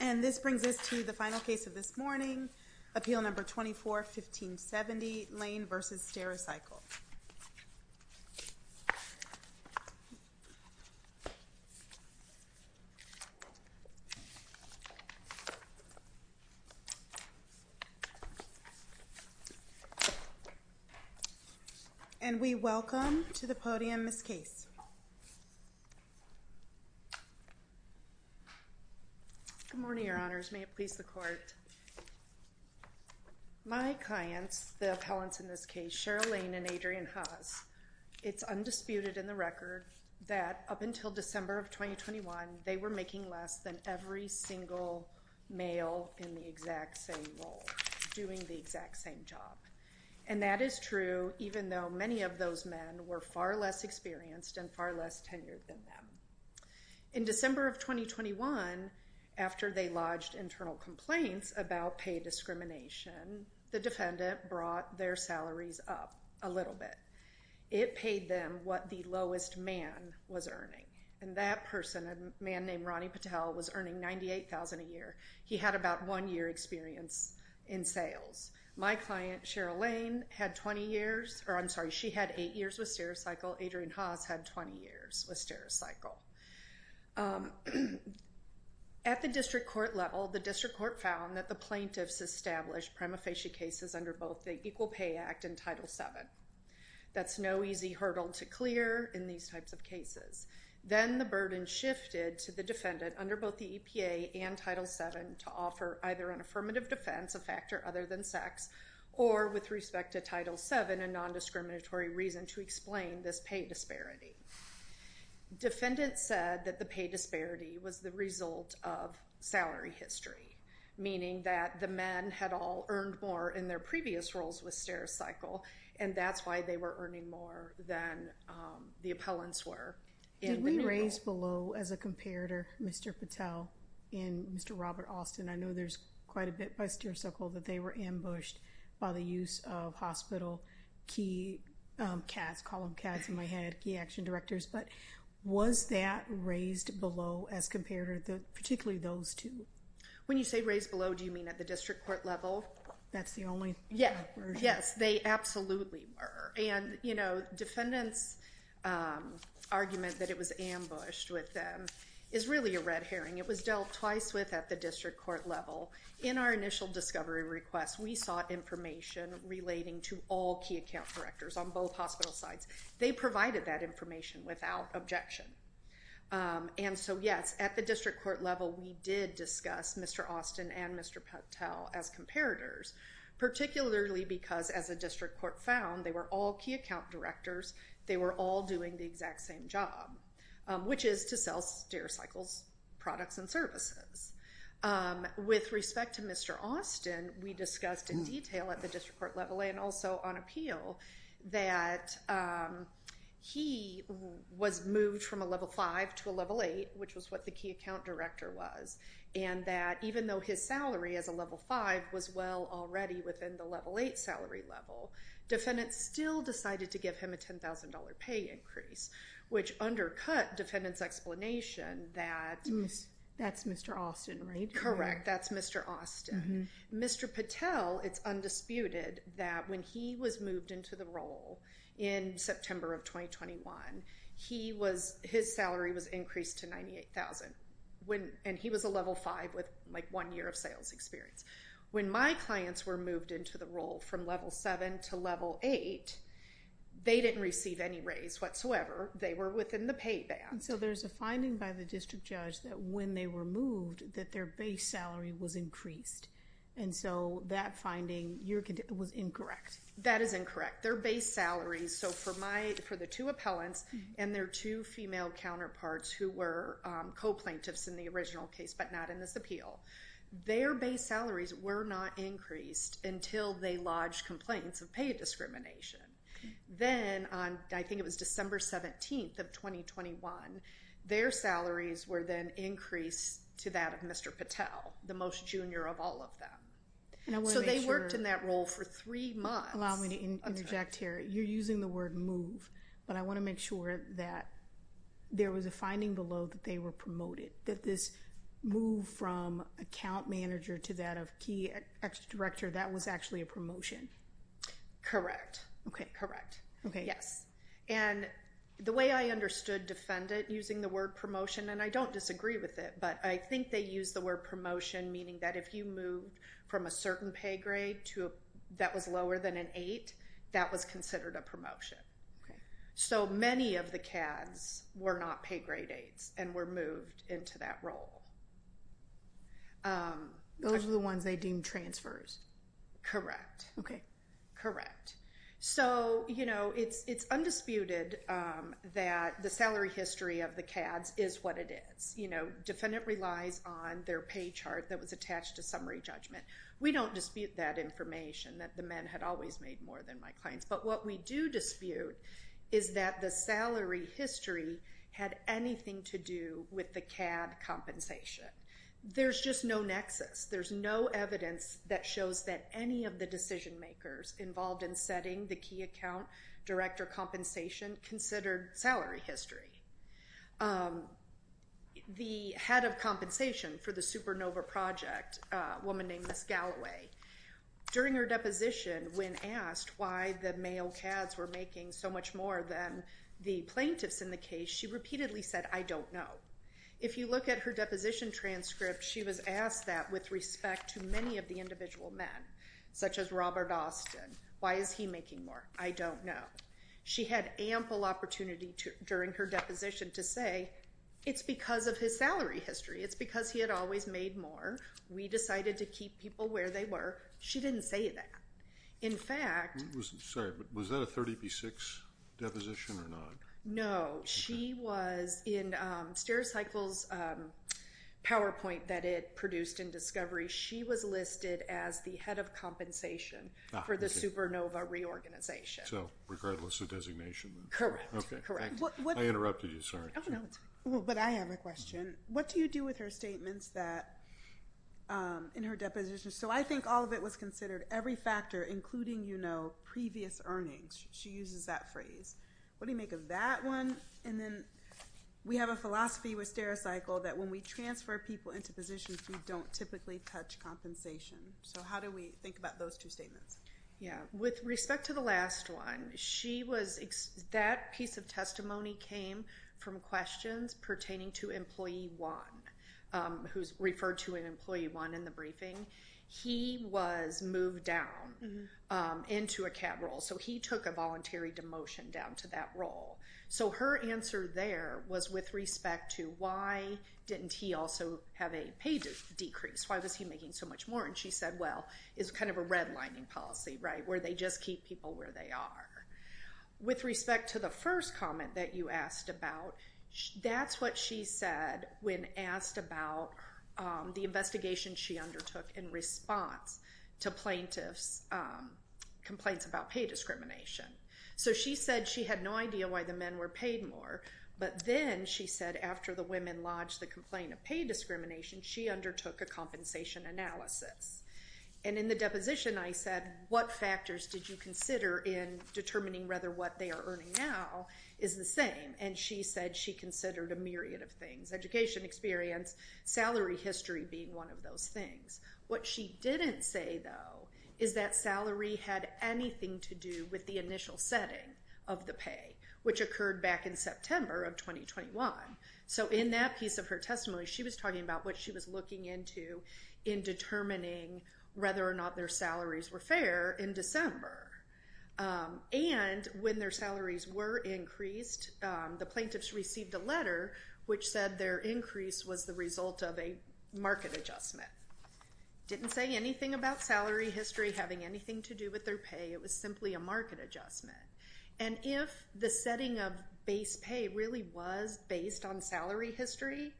And this brings us to the final case of this morning, Appeal No. 24-1570, Lane v. Stericycle. And we welcome to the podium Ms. Case. Good morning, Your Honors. May it please the Court. My clients, the appellants in this case, Cheryl Lane and Adrian Haas, it's undisputed in the record that up until December of 2021, they were making less than every single male in the exact same role, doing the exact same job. And that is true, even though many of those men were far less experienced and far less tenured than them. In December of 2021, after they lodged internal complaints about pay discrimination, the defendant brought their salaries up a little bit. It paid them what the lowest man was earning. And that person, a man named Ronnie Patel, was earning $98,000 a year. He had about one year experience in sales. My client, Cheryl Lane, had 20 years, or I'm sorry, she had eight years with Stericycle. Adrian Haas had 20 years with Stericycle. At the district court level, the district court found that the plaintiffs established prima facie cases under both the Equal Pay Act and Title VII. That's no easy hurdle to clear in these types of cases. Then the burden shifted to the defendant under both the EPA and Title VII to offer either an affirmative defense, a factor other than sex, or with respect to Title VII, a nondiscriminatory reason to explain this pay disparity. Defendant said that the pay disparity was the result of salary history, meaning that the men had all earned more in their previous roles with Stericycle. And that's why they were earning more than the appellants were. Did we raise below, as a comparator, Mr. Patel and Mr. Robert Austin? I know there's quite a bit by Stericycle that they were ambushed by the use of hospital key CADs, column CADs in my head, key action directors. But was that raised below as a comparator, particularly those two? When you say raised below, do you mean at the district court level? That's the only version. Yes, they absolutely were. And defendant's argument that it was ambushed with them is really a red herring. It was dealt twice with at the district court level. In our initial discovery request, we sought information relating to all key account directors on both hospital sides. They provided that information without objection. And so, yes, at the district court level, we did discuss Mr. Austin and Mr. Patel as comparators, particularly because, as a district court found, they were all key account directors. They were all doing the exact same job, which is to sell Stericycle's products and services. With respect to Mr. Austin, we discussed in detail at the district court level and also on appeal that he was moved from a level 5 to a level 8, which was what the key account director was, and that even though his salary as a level 5 was well already within the level 8 salary level, defendant still decided to give him a $10,000 pay increase, which undercut defendant's explanation that That's Mr. Austin, right? Correct. That's Mr. Austin. Mr. Patel, it's undisputed that when he was moved into the role in September of 2021, his salary was increased to $98,000, and he was a level 5 with one year of sales experience. When my clients were moved into the role from level 7 to level 8, they didn't receive any raise whatsoever. They were within the pay band. And so there's a finding by the district judge that when they were moved, that their base salary was increased, and so that finding was incorrect. That is incorrect. Their base salaries, so for the two appellants and their two female counterparts who were co-plaintiffs in the original case but not in this appeal, their base salaries were not increased until they lodged complaints of pay discrimination. Then, I think it was December 17th of 2021, their salaries were then increased to that of Mr. Patel, the most junior of all of them. So they worked in that role for three months. Allow me to interject here. You're using the word move, but I want to make sure that there was a finding below that they were promoted, that this move from account manager to that of key ex-director, that was actually a promotion. Correct. Correct. Yes. And the way I understood defendant using the word promotion, and I don't disagree with it, but I think they used the word promotion meaning that if you moved from a certain pay grade that was lower than an 8, that was considered a promotion. So many of the CADs were not pay grade 8s and were moved into that role. Those were the ones they deemed transfers. Correct. Correct. So it's undisputed that the salary history of the CADs is what it is. Defendant relies on their pay chart that was attached to summary judgment. We don't dispute that information that the men had always made more than my clients, but what we do dispute is that the salary history had anything to do with the CAD compensation. There's just no nexus. There's no evidence that shows that any of the decision makers involved in setting the key account director compensation considered salary history. The head of compensation for the Supernova Project, a woman named Miss Galloway, during her deposition when asked why the male CADs were making so much more than the plaintiffs in the case, she repeatedly said, I don't know. If you look at her deposition transcript, she was asked that with respect to many of the individual men, such as Robert Austin. Why is he making more? I don't know. She had ample opportunity during her deposition to say it's because of his salary history. It's because he had always made more. We decided to keep people where they were. She didn't say that. In fact, Sorry, but was that a 30B6 deposition or not? No. She was in StairCycle's PowerPoint that it produced in discovery. She was listed as the head of compensation for the Supernova reorganization. So regardless of designation. Correct. I interrupted you. Oh, no. But I have a question. What do you do with her statements that in her deposition? So I think all of it was considered every factor, including, you know, previous earnings. She uses that phrase. What do you make of that one? And then we have a philosophy with StairCycle that when we transfer people into positions, we don't typically touch compensation. So how do we think about those two statements? Yeah. With respect to the last one, that piece of testimony came from questions pertaining to employee one, who's referred to an employee one in the briefing. He was moved down into a cab role. So he took a voluntary demotion down to that role. So her answer there was with respect to why didn't he also have a pay decrease? Why was he making so much more? And she said, well, it's kind of a redlining policy, right, where they just keep people where they are. With respect to the first comment that you asked about, that's what she said when asked about the investigation she undertook in response to plaintiffs' complaints about pay discrimination. So she said she had no idea why the men were paid more. But then she said after the women lodged the complaint of pay discrimination, she undertook a compensation analysis. And in the deposition I said, what factors did you consider in determining whether what they are earning now is the same? And she said she considered a myriad of things, education experience, salary history being one of those things. What she didn't say, though, is that salary had anything to do with the initial setting of the pay, which occurred back in September of 2021. So in that piece of her testimony, she was talking about what she was looking into in determining whether or not their salaries were fair in December. And when their salaries were increased, the plaintiffs received a letter which said their increase was the result of a market adjustment. Didn't say anything about salary history having anything to do with their pay. It was simply a market adjustment. And if the setting of base pay really was based on salary history,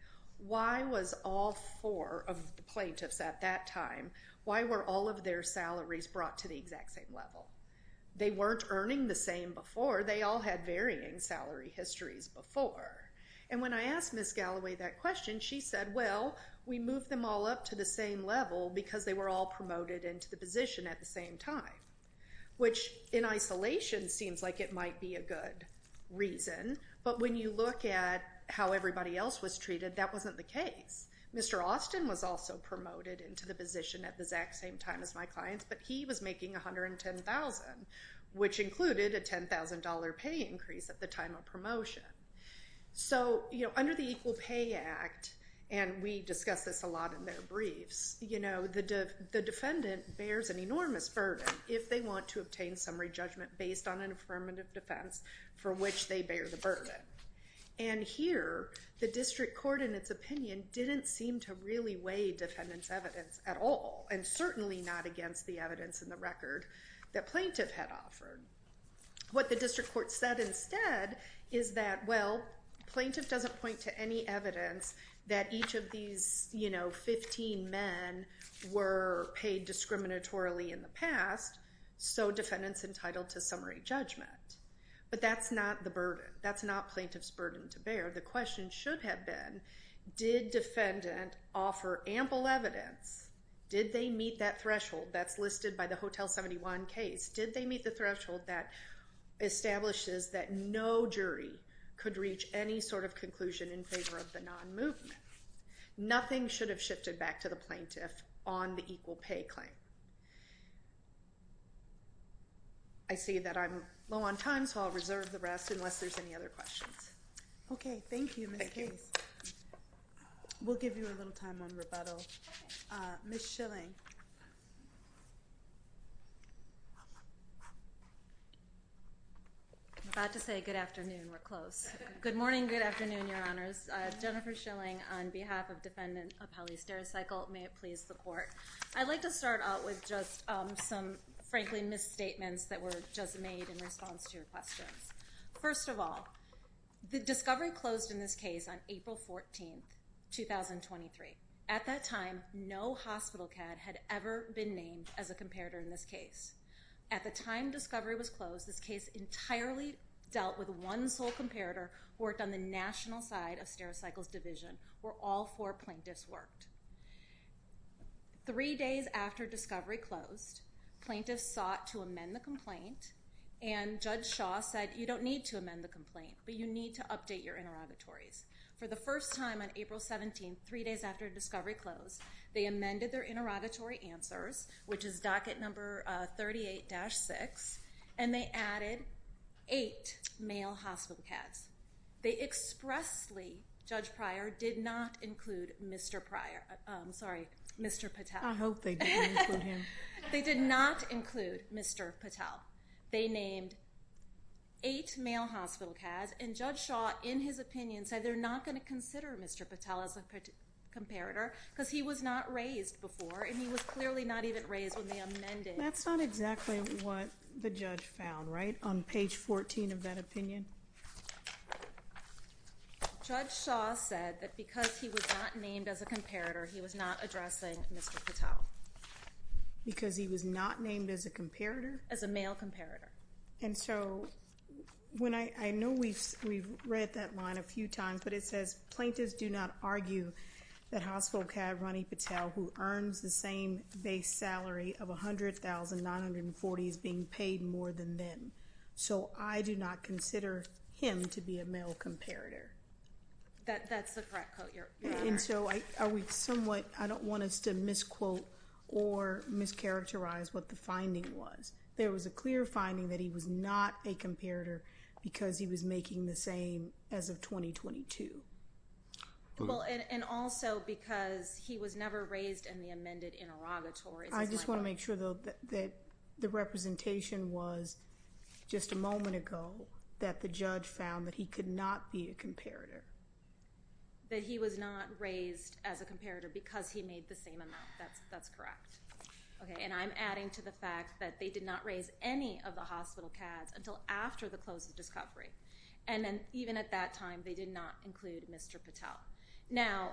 why was all four of the plaintiffs at that time, why were all of their salaries brought to the exact same level? They weren't earning the same before. They all had varying salary histories before. And when I asked Ms. Galloway that question, she said, well, we moved them all up to the same level because they were all promoted into the position at the same time, which in isolation seems like it might be a good reason. But when you look at how everybody else was treated, that wasn't the case. Mr. Austin was also promoted into the position at the exact same time as my clients, but he was making $110,000, which included a $10,000 pay increase at the time of promotion. So under the Equal Pay Act, and we discuss this a lot in their briefs, the defendant bears an enormous burden if they want to obtain summary judgment based on an affirmative defense for which they bear the burden. And here, the district court, in its opinion, didn't seem to really weigh defendant's evidence at all, and certainly not against the evidence in the record that plaintiff had offered. What the district court said instead is that, well, plaintiff doesn't point to any evidence that each of these 15 men were paid discriminatorily in the past, so defendant's entitled to summary judgment. But that's not the burden. That's not plaintiff's burden to bear. The question should have been, did defendant offer ample evidence? Did they meet that threshold that's listed by the Hotel 71 case? Did they meet the threshold that establishes that no jury could reach any sort of conclusion in favor of the non-movement? Nothing should have shifted back to the plaintiff on the equal pay claim. I see that I'm low on time, so I'll reserve the rest unless there's any other questions. Okay. Thank you, Ms. Case. We'll give you a little time on rebuttal. Ms. Schilling. I'm about to say good afternoon. We're close. Good morning, good afternoon, Your Honors. Jennifer Schilling on behalf of Defendant Apelli Stericycle. May it please the court. I'd like to start out with just some, frankly, misstatements that were just made in response to your questions. First of all, the discovery closed in this case on April 14, 2023. At that time, no hospital CAD had ever been named as a comparator in this case. At the time discovery was closed, this case entirely dealt with one sole comparator who worked on the national side of Stericycle's division, where all four plaintiffs worked. Three days after discovery closed, plaintiffs sought to amend the complaint, and Judge Shaw said, you don't need to amend the complaint, but you need to update your interrogatories. For the first time on April 17, three days after discovery closed, they amended their interrogatory answers, which is docket number 38-6, and they added eight male hospital CADs. They expressly, Judge Pryor, did not include Mr. Pryor. I'm sorry, Mr. Patel. I hope they didn't include him. They did not include Mr. Patel. They named eight male hospital CADs, and Judge Shaw, in his opinion, said they're not going to consider Mr. Patel as a comparator because he was not raised before, and he was clearly not even raised when they amended. That's not exactly what the judge found, right, on page 14 of that opinion? Judge Shaw said that because he was not named as a comparator, he was not addressing Mr. Patel. Because he was not named as a comparator? As a male comparator. And so when I know we've read that line a few times, but it says, Plaintiffs do not argue that hospital CAD Ronnie Patel, who earns the same base salary of $100,940, is being paid more than them. So I do not consider him to be a male comparator. That's the correct quote, Your Honor. And so I don't want us to misquote or mischaracterize what the finding was. There was a clear finding that he was not a comparator because he was making the same as of 2022. And also because he was never raised in the amended interrogatory. I just want to make sure, though, that the representation was just a moment ago that the judge found that he could not be a comparator. That he was not raised as a comparator because he made the same amount. That's correct. Okay, and I'm adding to the fact that they did not raise any of the hospital CADs until after the close of discovery. And then even at that time, they did not include Mr. Patel. Now,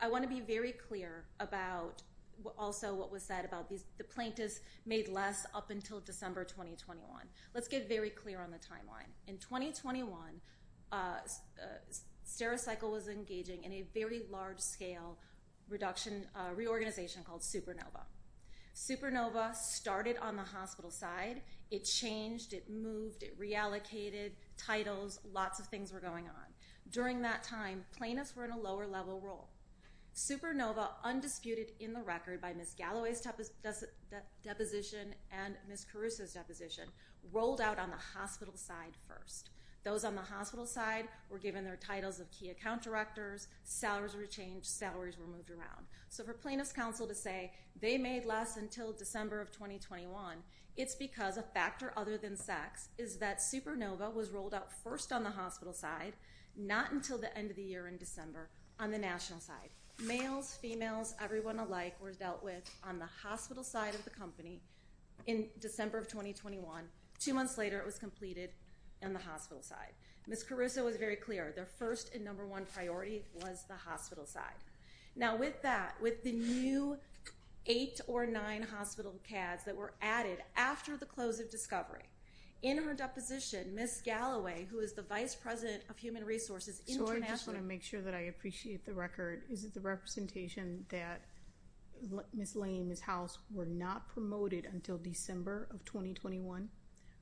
I want to be very clear about also what was said about the plaintiffs made less up until December 2021. Let's get very clear on the timeline. In 2021, Stericycle was engaging in a very large scale reduction reorganization called Supernova. Supernova started on the hospital side. It changed, it moved, it reallocated titles. Lots of things were going on. During that time, plaintiffs were in a lower level role. Supernova, undisputed in the record by Ms. Galloway's deposition and Ms. Caruso's deposition, rolled out on the hospital side first. Those on the hospital side were given their titles of key account directors. Salaries were changed. Salaries were moved around. So for plaintiffs' counsel to say they made less until December of 2021, it's because a factor other than sex is that Supernova was rolled out first on the hospital side, not until the end of the year in December on the national side. Males, females, everyone alike were dealt with on the hospital side of the company in December of 2021. Two months later, it was completed on the hospital side. Ms. Caruso was very clear. Their first and number one priority was the hospital side. Now, with that, with the new eight or nine hospital CADs that were added after the close of discovery, in her deposition, Ms. Galloway, who is the vice president of human resources internationally So I just want to make sure that I appreciate the record. Is it the representation that Ms. Lane and Ms. House were not promoted until December of 2021?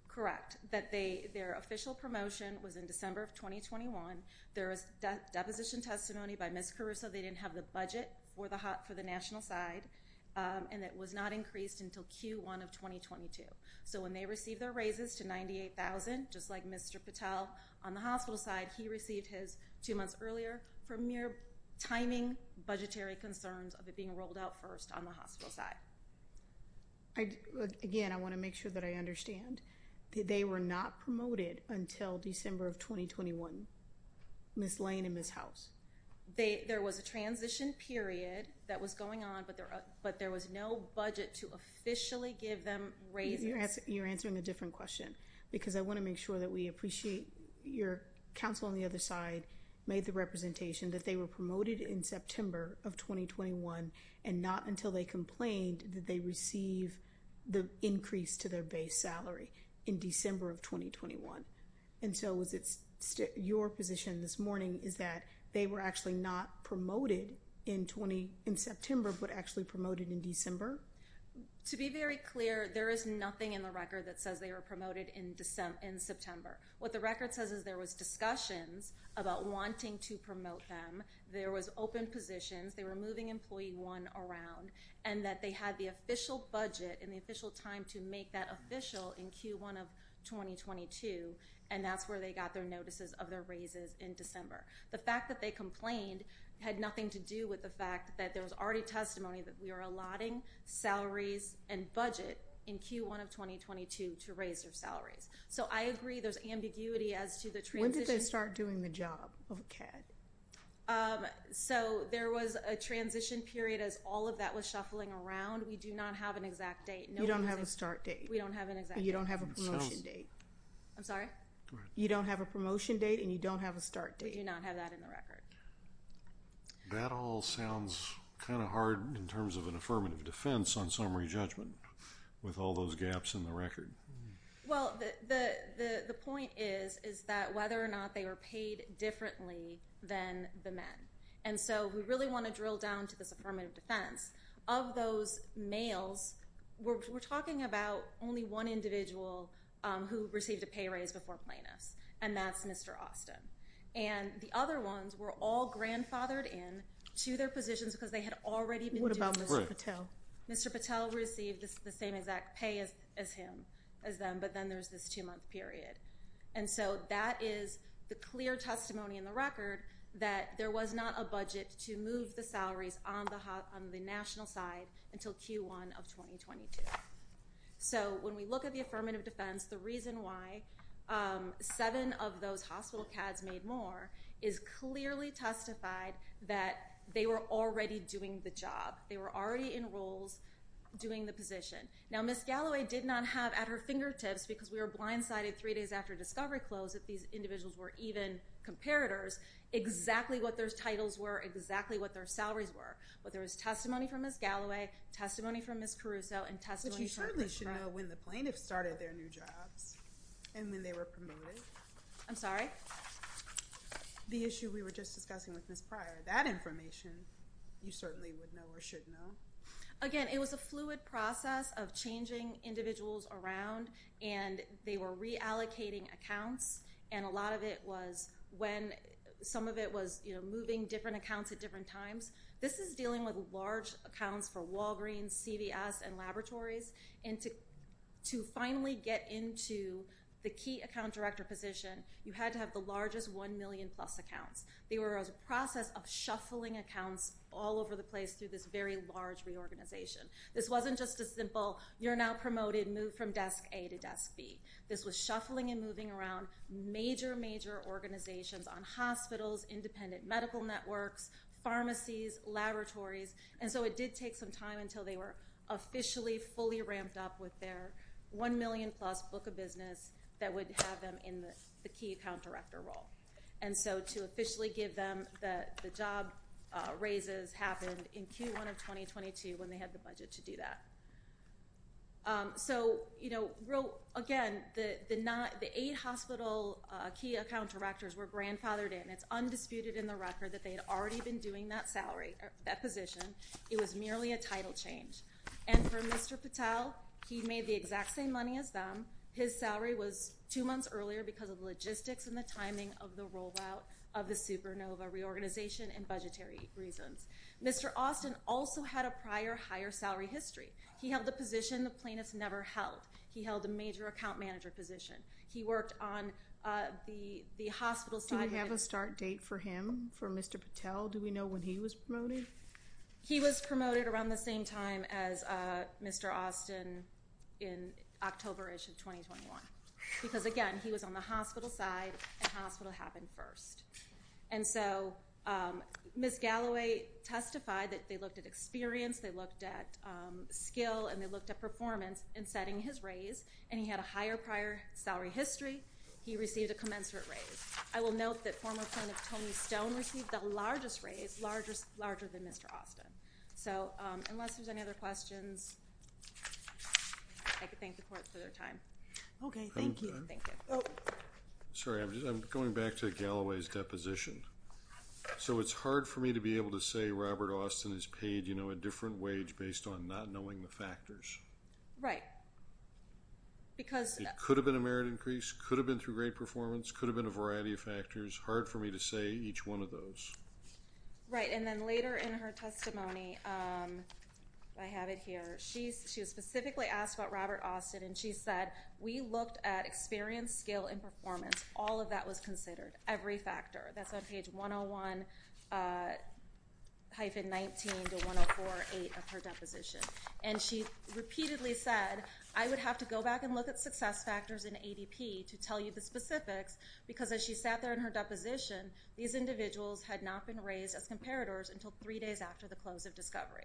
Correct, that their official promotion was in December of 2021. There was deposition testimony by Ms. Caruso. They didn't have the budget for the national side, and it was not increased until Q1 of 2022. So when they received their raises to $98,000, just like Mr. Patel on the hospital side, he received his two months earlier for mere timing, budgetary concerns of it being rolled out first on the hospital side. Again, I want to make sure that I understand that they were not promoted until December of 2021. Ms. Lane and Ms. House. There was a transition period that was going on, but there was no budget to officially give them raises. You're answering a different question because I want to make sure that we appreciate your counsel on the other side made the representation that they were promoted in September of 2021 and not until they complained that they receive the increase to their base salary in December of 2021. And so was it your position this morning is that they were actually not promoted in September, but actually promoted in December? To be very clear, there is nothing in the record that says they were promoted in December in September. What the record says is there was discussions about wanting to promote them. There was open positions. They were moving employee one around and that they had the official budget and the official time to make that official in Q1 of 2022. And that's where they got their notices of their raises in December. The fact that they complained had nothing to do with the fact that there was already testimony that we are allotting salaries and budget in Q1 of 2022 to raise their salaries. So, I agree there's ambiguity as to the transition. When did they start doing the job of a CAD? So, there was a transition period as all of that was shuffling around. We do not have an exact date. You don't have a start date. We don't have an exact date. You don't have a promotion date. I'm sorry? You don't have a promotion date and you don't have a start date. We do not have that in the record. That all sounds kind of hard in terms of an affirmative defense on summary judgment with all those gaps in the record. Well, the point is that whether or not they were paid differently than the men. And so, we really want to drill down to this affirmative defense. Of those males, we're talking about only one individual who received a pay raise before plaintiffs and that's Mr. Austin. And the other ones were all grandfathered in to their positions because they had already been due for it. Mr. Patel received the same exact pay as him, as them, but then there's this two-month period. And so, that is the clear testimony in the record that there was not a budget to move the salaries on the national side until Q1 of 2022. So, when we look at the affirmative defense, the reason why seven of those hospital CADs made more is clearly testified that they were already doing the job. They were already in roles doing the position. Now, Ms. Galloway did not have at her fingertips, because we were blindsided three days after discovery closed, that these individuals were even comparators, exactly what their titles were, exactly what their salaries were. But there was testimony from Ms. Galloway, testimony from Ms. Caruso, and testimony from Ms. Brown. But you certainly should know when the plaintiffs started their new jobs and when they were promoted. I'm sorry? The issue we were just discussing with Ms. Pryor, that information, you certainly would know or should know. Again, it was a fluid process of changing individuals around and they were reallocating accounts. And a lot of it was when some of it was, you know, moving different accounts at different times. This is dealing with large accounts for Walgreens, CVS, and laboratories. And to finally get into the key account director position, you had to have the largest one million plus accounts. They were a process of shuffling accounts all over the place through this very large reorganization. This wasn't just a simple, you're now promoted, move from desk A to desk B. This was shuffling and moving around major, major organizations on hospitals, independent medical networks, pharmacies, laboratories. And so it did take some time until they were officially fully ramped up with their one million plus book of business that would have them in the key account director role. And so to officially give them the job raises happened in Q1 of 2022 when they had the budget to do that. So, you know, again, the eight hospital key account directors were grandfathered in. It's undisputed in the record that they had already been doing that salary, that position. It was merely a title change. And for Mr. Patel, he made the exact same money as them. His salary was two months earlier because of the logistics and the timing of the rollout of the Supernova reorganization and budgetary reasons. Mr. Austin also had a prior higher salary history. He held the position the plaintiffs never held. He held a major account manager position. He worked on the hospital side. Do we have a start date for him, for Mr. Patel? Do we know when he was promoted? He was promoted around the same time as Mr. Austin in October-ish of 2021. Because, again, he was on the hospital side and hospital happened first. And so Ms. Galloway testified that they looked at experience, they looked at skill, and they looked at performance in setting his raise. And he had a higher prior salary history. He received a commensurate raise. I will note that former plaintiff Tony Stone received the largest raise, larger than Mr. Austin. So unless there's any other questions, I can thank the court for their time. Okay, thank you. Thank you. Sorry, I'm going back to Galloway's deposition. So it's hard for me to be able to say Robert Austin has paid, you know, a different wage based on not knowing the factors. It could have been a merit increase, could have been through great performance, could have been a variety of factors. Hard for me to say each one of those. Right, and then later in her testimony, I have it here. She specifically asked about Robert Austin, and she said, we looked at experience, skill, and performance. All of that was considered, every factor. That's on page 101-19 to 104-8 of her deposition. And she repeatedly said, I would have to go back and look at success factors in ADP to tell you the specifics, because as she sat there in her deposition, these individuals had not been raised as comparators until three days after the close of discovery.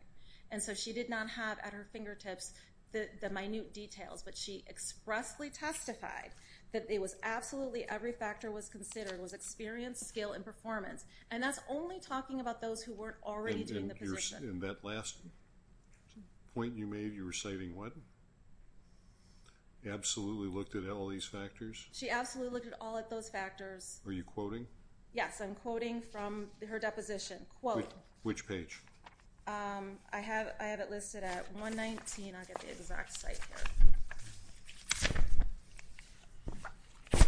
And so she did not have at her fingertips the minute details, but she expressly testified that it was absolutely every factor was considered was experience, skill, and performance. And that's only talking about those who weren't already doing the position. And that last point you made, you were citing what? Absolutely looked at all these factors? She absolutely looked at all of those factors. Are you quoting? Yes, I'm quoting from her deposition. Quote. Which page? I have it listed at 119. I'll get the exact site here.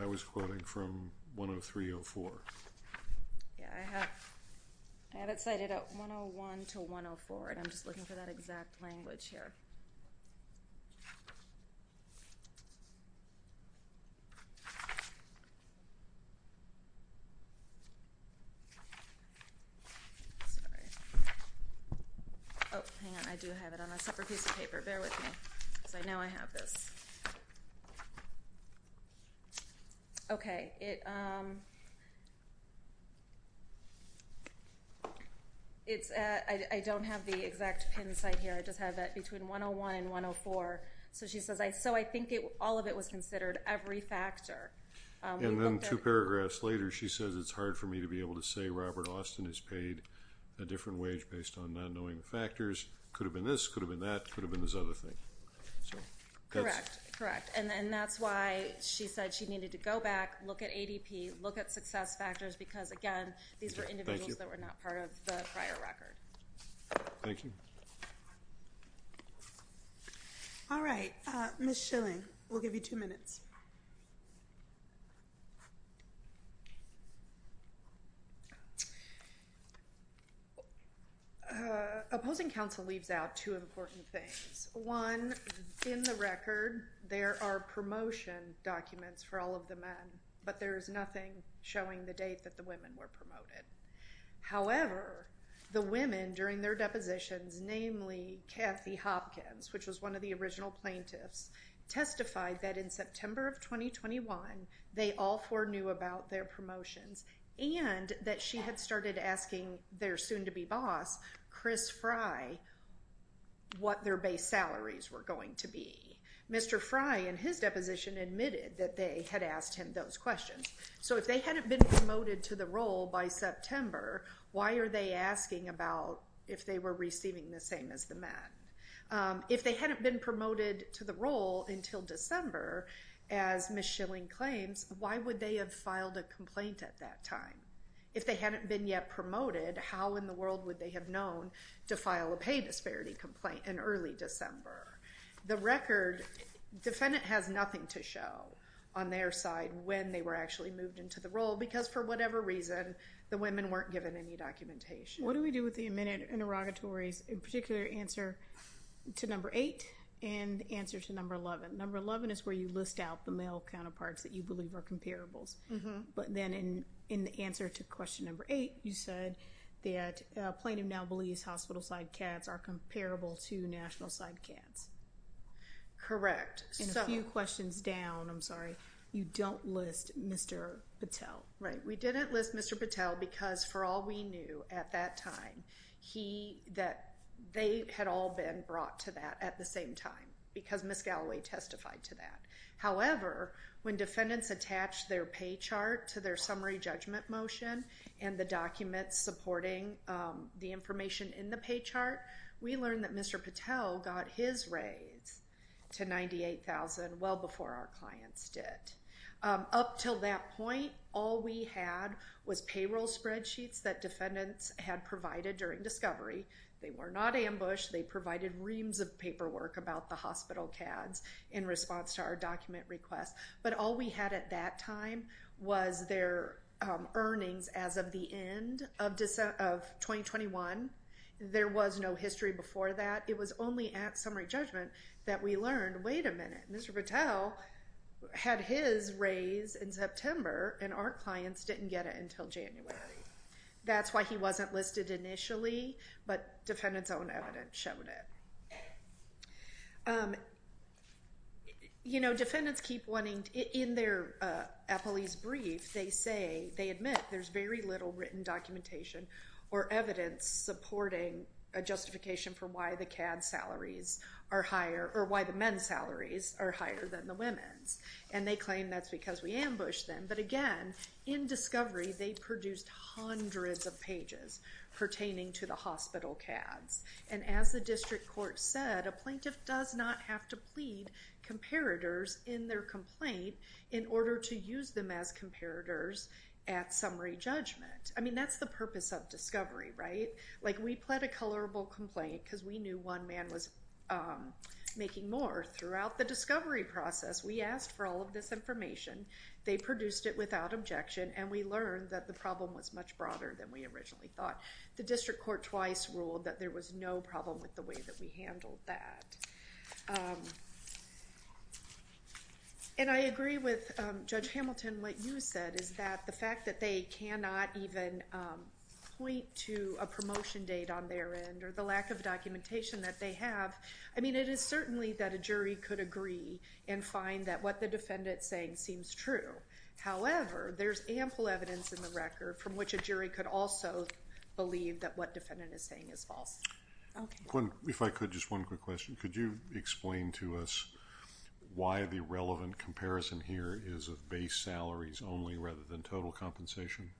I was quoting from 103-04. Yeah, I have it cited at 101-104, and I'm just looking for that exact language here. Sorry. Oh, hang on. I do have it on a separate piece of paper. Bear with me, because I know I have this. Okay. I don't have the exact pin site here. I just have it between 101 and 104. So she says, so I think all of it was considered every factor. And then two paragraphs later, she says it's hard for me to be able to say Robert Austin has paid a different wage based on not knowing the factors. Could have been this, could have been that, could have been this other thing. Correct. Correct. And that's why she said she needed to go back, look at ADP, look at success factors, because, again, these were individuals that were not part of the prior record. Thank you. All right. Ms. Schilling, we'll give you two minutes. Opposing counsel leaves out two important things. One, in the record, there are promotion documents for all of the men, but there is nothing showing the date that the women were promoted. However, the women, during their depositions, namely Kathy Hopkins, which was one of the original plaintiffs, testified that in September of 2021, they all four knew about their promotions, and that she had started asking their soon-to-be boss, Chris Fry, what their base salaries were going to be. Mr. Fry, in his deposition, admitted that they had asked him those questions. So if they hadn't been promoted to the role by September, why are they asking about if they were receiving the same as the men? If they hadn't been promoted to the role until December, as Ms. Schilling claims, why would they have filed a complaint at that time? If they hadn't been yet promoted, how in the world would they have known to file a pay disparity complaint in early December? The record, defendant has nothing to show on their side when they were actually moved into the role, because for whatever reason, the women weren't given any documentation. What do we do with the admitted interrogatories, in particular, answer to number eight and answer to number 11? Number 11 is where you list out the male counterparts that you believe are comparables. But then in the answer to question number eight, you said that plaintiff now believes hospital-side cats are comparable to national-side cats. Correct. And a few questions down, I'm sorry, you don't list Mr. Patel. Right, we didn't list Mr. Patel because for all we knew at that time, they had all been brought to that at the same time, because Ms. Galloway testified to that. However, when defendants attached their pay chart to their summary judgment motion and the documents supporting the information in the pay chart, we learned that Mr. Patel got his raise to $98,000 well before our clients did. Up till that point, all we had was payroll spreadsheets that defendants had provided during discovery. They were not ambushed. They provided reams of paperwork about the hospital cats in response to our document request. But all we had at that time was their earnings as of the end of 2021. There was no history before that. It was only at summary judgment that we learned, wait a minute. Mr. Patel had his raise in September, and our clients didn't get it until January. That's why he wasn't listed initially, but defendants' own evidence showed it. You know, defendants keep wanting, in their police brief, they say, they admit there's very little written documentation or evidence supporting a justification for why the CAD salaries are higher, or why the men's salaries are higher than the women's. And they claim that's because we ambushed them. But again, in discovery, they produced hundreds of pages pertaining to the hospital CADs. And as the district court said, a plaintiff does not have to plead comparators in their complaint in order to use them as comparators at summary judgment. I mean, that's the purpose of discovery, right? Like, we pled a colorable complaint because we knew one man was making more throughout the discovery process. We asked for all of this information. They produced it without objection, and we learned that the problem was much broader than we originally thought. The district court twice ruled that there was no problem with the way that we handled that. And I agree with Judge Hamilton. What you said is that the fact that they cannot even point to a promotion date on their end or the lack of documentation that they have, I mean, it is certainly that a jury could agree and find that what the defendant's saying seems true. However, there's ample evidence in the record from which a jury could also believe that what defendant is saying is false. Okay. If I could, just one quick question. Could you explain to us why the relevant comparison here is of base salaries only rather than total compensation?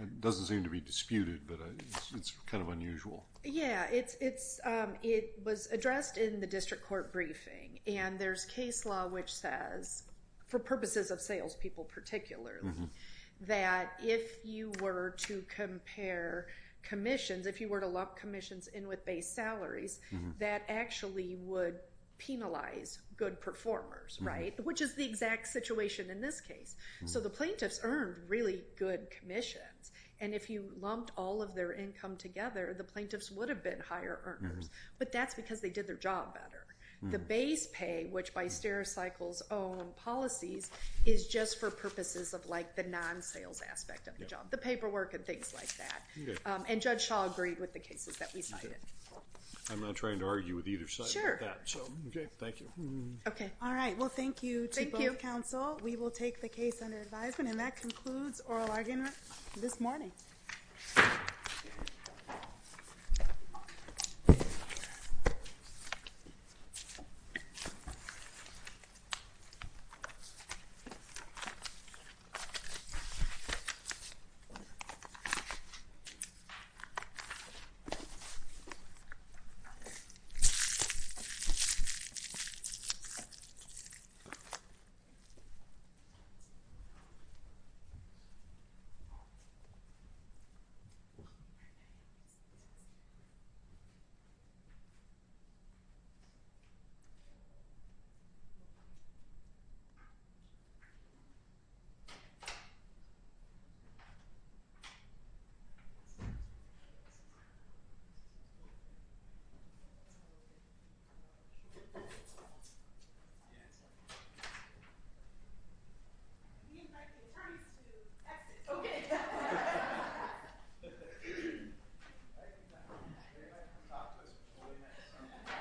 It doesn't seem to be disputed, but it's kind of unusual. Yeah. It was addressed in the district court briefing, and there's case law which says, for purposes of salespeople particularly, that if you were to compare commissions, if you were to lump commissions in with base salaries, that actually would penalize good performers, right, which is the exact situation in this case. So the plaintiffs earned really good commissions. And if you lumped all of their income together, the plaintiffs would have been higher earners. But that's because they did their job better. The base pay, which by stericycles own policies, is just for purposes of like the non-sales aspect of the job, the paperwork and things like that. And Judge Shaw agreed with the cases that we cited. I'm not trying to argue with either side of that. So, okay, thank you. Okay. All right. Well, thank you to both counsel. We will take the case under advisement. And that concludes oral argument this morning. Thank you. Okay.